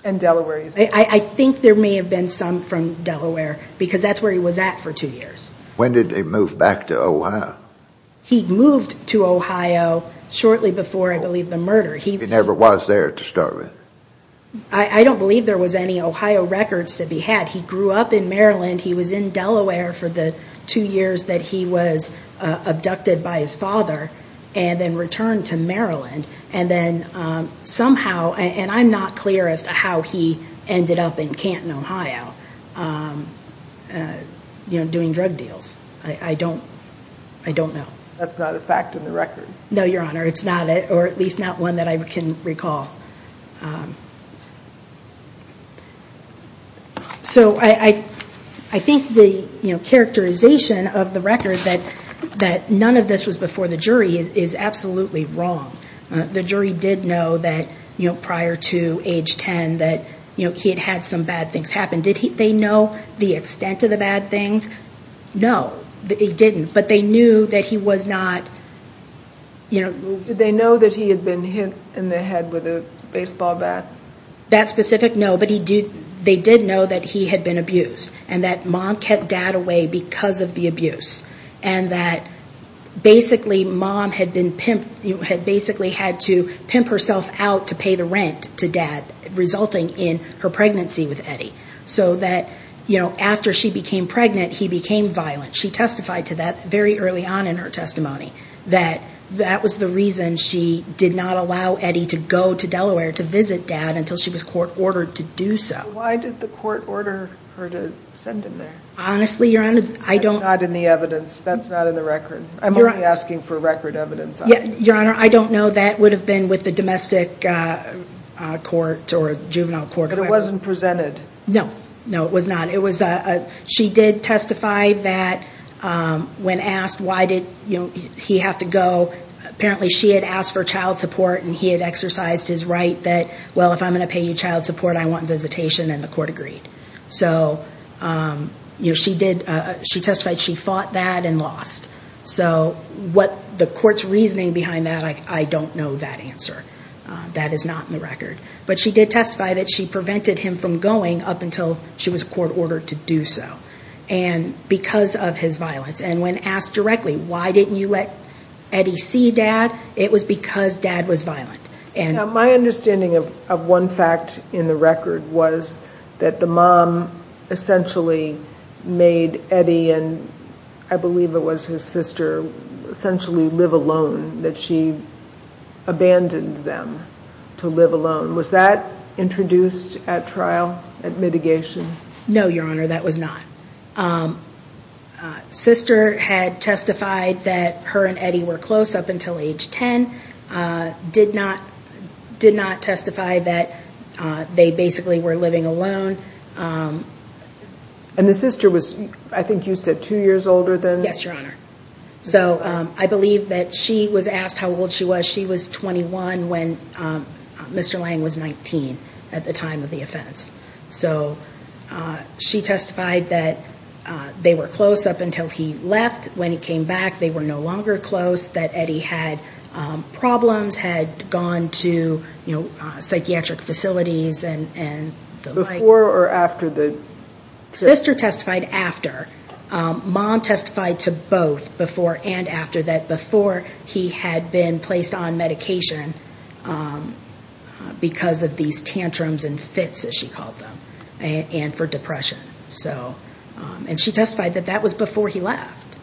And Delaware. I think there may have been some from Delaware because that's where he was at for two years. When did he move back to Ohio? He moved to Ohio shortly before, I believe, the murder. He never was there to start with. I don't believe there was any Ohio records to be had. He grew up in Maryland. He was in Delaware for the two years that he was abducted by his father and then returned to Maryland and then somehow, and I'm not clear as to how he ended up in Canton, Ohio, doing drug deals. I don't know. That's not a fact in the record. No, Your Honor. It's not, or at least not one that I can recall. So I think the characterization of the record that none of this was before the jury is absolutely wrong. The jury did know that prior to age 10 that he had had some bad things happen. Did they know the extent of the bad things? No, they didn't. But they knew that he was not, you know. Did they know that he had been hit in the head with a baseball bat? That specific? No, but they did know that he had been abused and that mom kept dad away because of the abuse and that basically mom had basically had to pimp herself out to pay the rent to dad, resulting in her pregnancy with Eddie. So that, you know, after she became pregnant, he became violent. She testified to that very early on in her testimony, that that was the reason she did not allow Eddie to go to Delaware to visit dad until she was court ordered to do so. Why did the court order her to send him there? Honestly, Your Honor, I don't. That's not in the evidence. That's not in the record. I'm only asking for record evidence. Your Honor, I don't know. That would have been with the domestic court or juvenile court. But it wasn't presented. No, no, it was not. She did testify that when asked why did he have to go, apparently she had asked for child support and he had exercised his right that, well, if I'm going to pay you child support, I want visitation, and the court agreed. So she testified she fought that and lost. So what the court's reasoning behind that, I don't know that answer. That is not in the record. But she did testify that she prevented him from going up until she was court ordered to do so because of his violence. And when asked directly, why didn't you let Eddie see dad, it was because dad was violent. My understanding of one fact in the record was that the mom essentially made Eddie and I believe it was his sister essentially live alone, that she abandoned them to live alone. Was that introduced at trial, at mitigation? No, Your Honor, that was not. Sister had testified that her and Eddie were close up until age 10, did not testify that they basically were living alone. And the sister was, I think you said, two years older than? Yes, Your Honor. So I believe that she was asked how old she was. She was 21 when Mr. Lang was 19 at the time of the offense. So she testified that they were close up until he left. When he came back, they were no longer close, that Eddie had problems, had gone to psychiatric facilities and the like. Before or after the? Sister testified after. Mom testified to both before and after that, before he had been placed on medication because of these tantrums and fits, as she called them, and for depression. And she testified that that was before he left.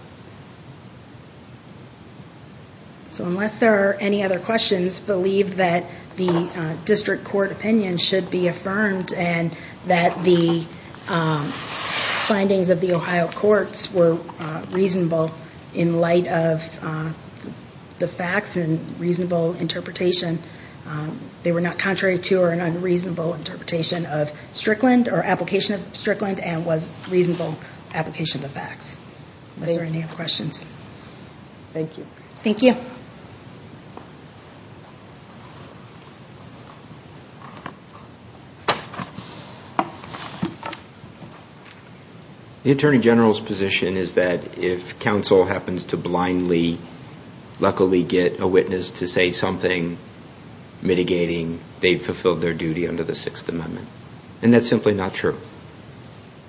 So unless there are any other questions, believe that the district court opinion should be affirmed and that the findings of the Ohio courts were reasonable in light of the facts and reasonable interpretation. They were not contrary to or an unreasonable interpretation of Strickland or application of Strickland and was reasonable application of the facts. Unless there are any other questions. Thank you. Thank you. The Attorney General's position is that if counsel happens to blindly, luckily get a witness to say something mitigating, they've fulfilled their duty under the Sixth Amendment. And that's simply not true.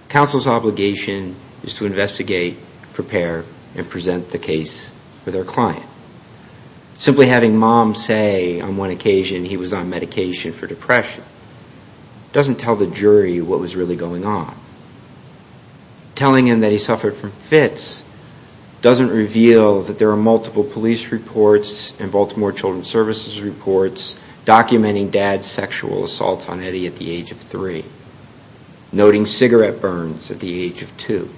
Counsel's obligation is to investigate, prepare, and present the case for their client. Simply having mom say on one occasion he was on medication for depression doesn't tell the jury what was really going on. Telling him that he suffered from fits doesn't reveal that there are multiple police reports and Baltimore Children's Services reports documenting dad's sexual assault on Eddie at the age of three, noting cigarette burns at the age of two.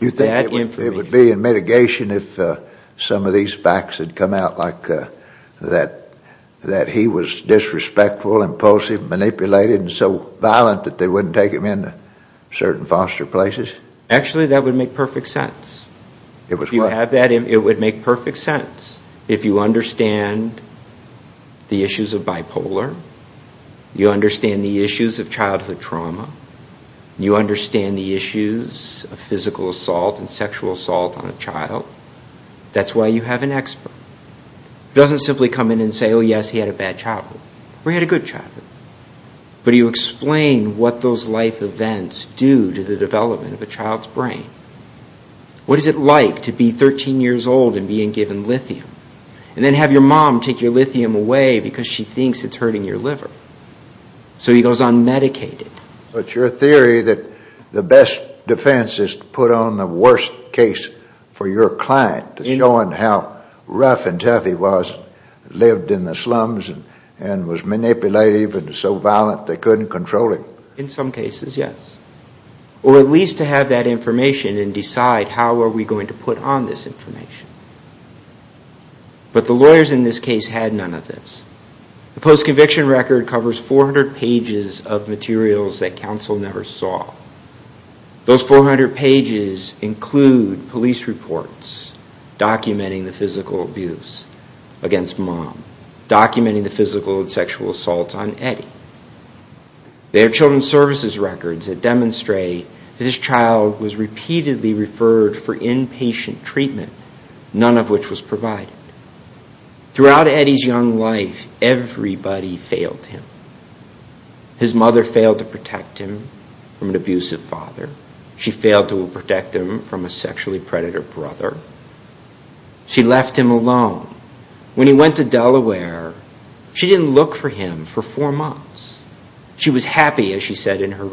You think it would be in mitigation if some of these facts had come out like that he was disrespectful, impulsive, manipulated, and so violent that they wouldn't take him into certain foster places? Actually, that would make perfect sense. It would what? If you have that, it would make perfect sense. If you understand the issues of bipolar, you understand the issues of childhood trauma, you understand the issues of physical assault and sexual assault on a child, that's why you have an expert. He doesn't simply come in and say, oh, yes, he had a bad childhood. Or he had a good childhood. But you explain what those life events do to the development of a child's brain. What is it like to be 13 years old and being given lithium? And then have your mom take your lithium away because she thinks it's hurting your liver. So he goes on medicated. But your theory that the best defense is to put on the worst case for your client showing how rough and tough he was, lived in the slums, and was manipulative and so violent they couldn't control him? In some cases, yes. Or at least to have that information and decide how are we going to put on this information. But the lawyers in this case had none of this. The post-conviction record covers 400 pages of materials that counsel never saw. Those 400 pages include police reports documenting the physical abuse against mom, documenting the physical and sexual assaults on Eddie. There are children's services records that demonstrate that his child was repeatedly referred for inpatient treatment, none of which was provided. Throughout Eddie's young life, everybody failed him. His mother failed to protect him from an abusive father. She failed to protect him from a sexually predator brother. She left him alone. When he went to Delaware, she didn't look for him for four months. She was happy, as she said in her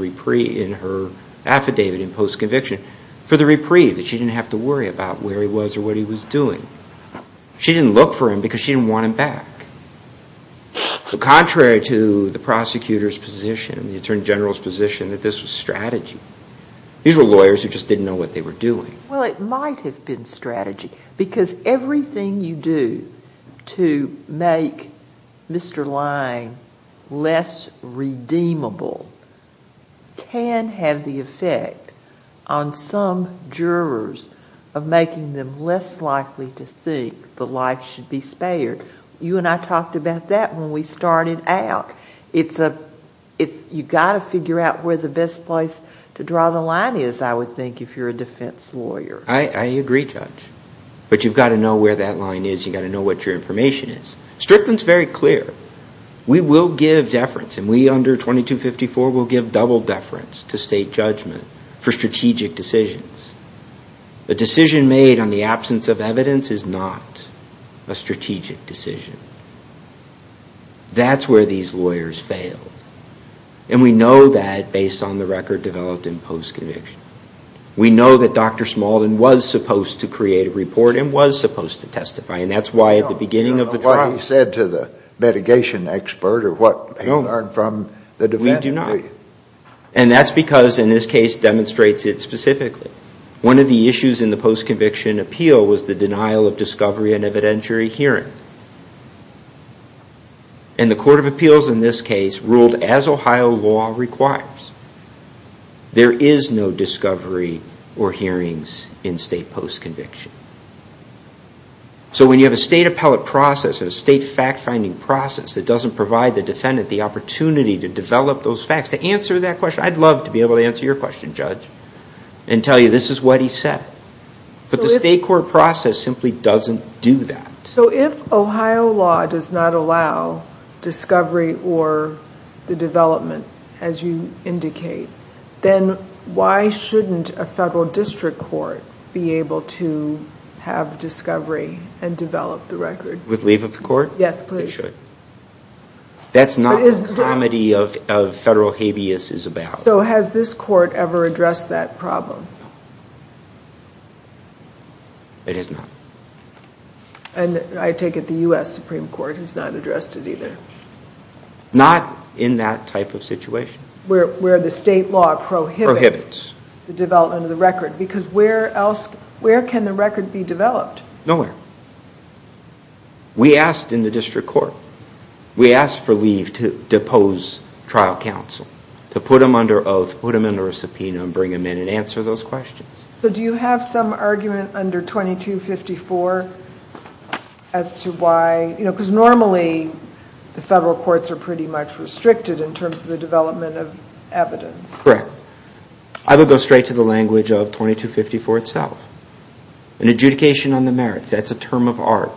affidavit in post-conviction, for the reprieve, that she didn't have to worry about where he was or what he was doing. She didn't look for him because she didn't want him back. Contrary to the prosecutor's position and the attorney general's position, that this was strategy. These were lawyers who just didn't know what they were doing. Well, it might have been strategy because everything you do to make Mr. Lange less redeemable can have the effect on some jurors of making them less likely to think that life should be spared. You and I talked about that when we started out. You've got to figure out where the best place to draw the line is, I would think, if you're a defense lawyer. I agree, Judge. But you've got to know where that line is. You've got to know what your information is. Strickland's very clear. We will give deference, and we under 2254 will give double deference to state judgment for strategic decisions. A decision made on the absence of evidence is not a strategic decision. That's where these lawyers failed. And we know that based on the record developed in post-conviction. We know that Dr. Smaldon was supposed to create a report and was supposed to testify. And that's why at the beginning of the trial... I don't know what he said to the litigation expert or what he learned from the defense. We do not. And that's because, in this case, it demonstrates it specifically. One of the issues in the post-conviction appeal was the denial of discovery in evidentiary hearing. And the Court of Appeals in this case ruled as Ohio law requires. There is no discovery or hearings in state post-conviction. So when you have a state appellate process and a state fact-finding process that doesn't provide the defendant the opportunity to develop those facts, to answer that question, I'd love to be able to answer your question, Judge, and tell you this is what he said. But the state court process simply doesn't do that. So if Ohio law does not allow discovery or the development, as you indicate, then why shouldn't a federal district court be able to have discovery and develop the record? With leave of the court? Yes, please. They should. That's not what the comedy of federal habeas is about. So has this court ever addressed that problem? It has not. And I take it the U.S. Supreme Court has not addressed it either. Not in that type of situation. Where the state law prohibits the development of the record. Because where else can the record be developed? Nowhere. We asked in the district court, we asked for leave to depose trial counsel, to put him under oath, put him under a subpoena, and bring him in and answer those questions. So do you have some argument under 2254 as to why, because normally the federal courts are pretty much restricted in terms of the development of evidence. Correct. I would go straight to the language of 2254 itself. An adjudication on the merits. That's a term of art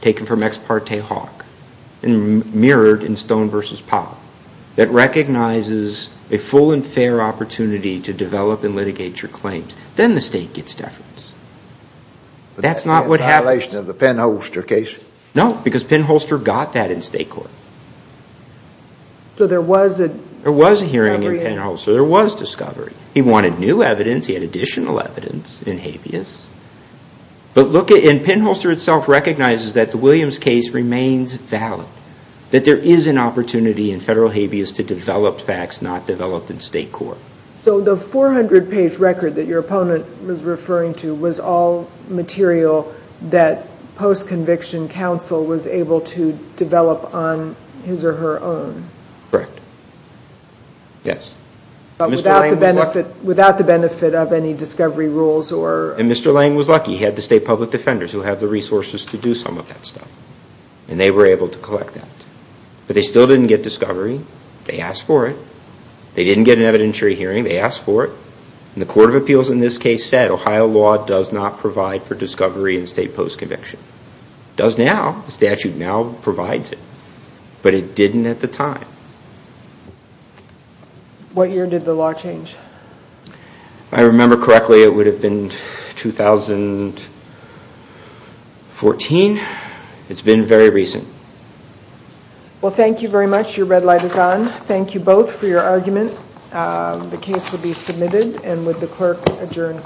taken from ex parte hawk and mirrored in Stone v. Powell that recognizes a full and fair opportunity to develop and litigate your claims. Then the state gets deference. That's not what happened. Is that a violation of the Penn-Holster case? No, because Penn-Holster got that in state court. So there was a hearing in Penn-Holster. There was discovery. He wanted new evidence. He had additional evidence in habeas. And Penn-Holster itself recognizes that the Williams case remains valid, that there is an opportunity in federal habeas to develop facts not developed in state court. So the 400-page record that your opponent was referring to was all material that post-conviction counsel was able to develop on his or her own? Correct. Yes. Without the benefit of any discovery rules? And Mr. Lang was lucky. He had the state public defenders who have the resources to do some of that stuff. And they were able to collect that. But they still didn't get discovery. They asked for it. They didn't get an evidentiary hearing. They asked for it. And the Court of Appeals in this case said Ohio law does not provide for discovery in state post-conviction. It does now. The statute now provides it. But it didn't at the time. What year did the law change? If I remember correctly, it would have been 2014. It's been very recent. Well, thank you very much. Your red light is on. Thank you both for your argument. The case will be submitted. And would the clerk adjourn?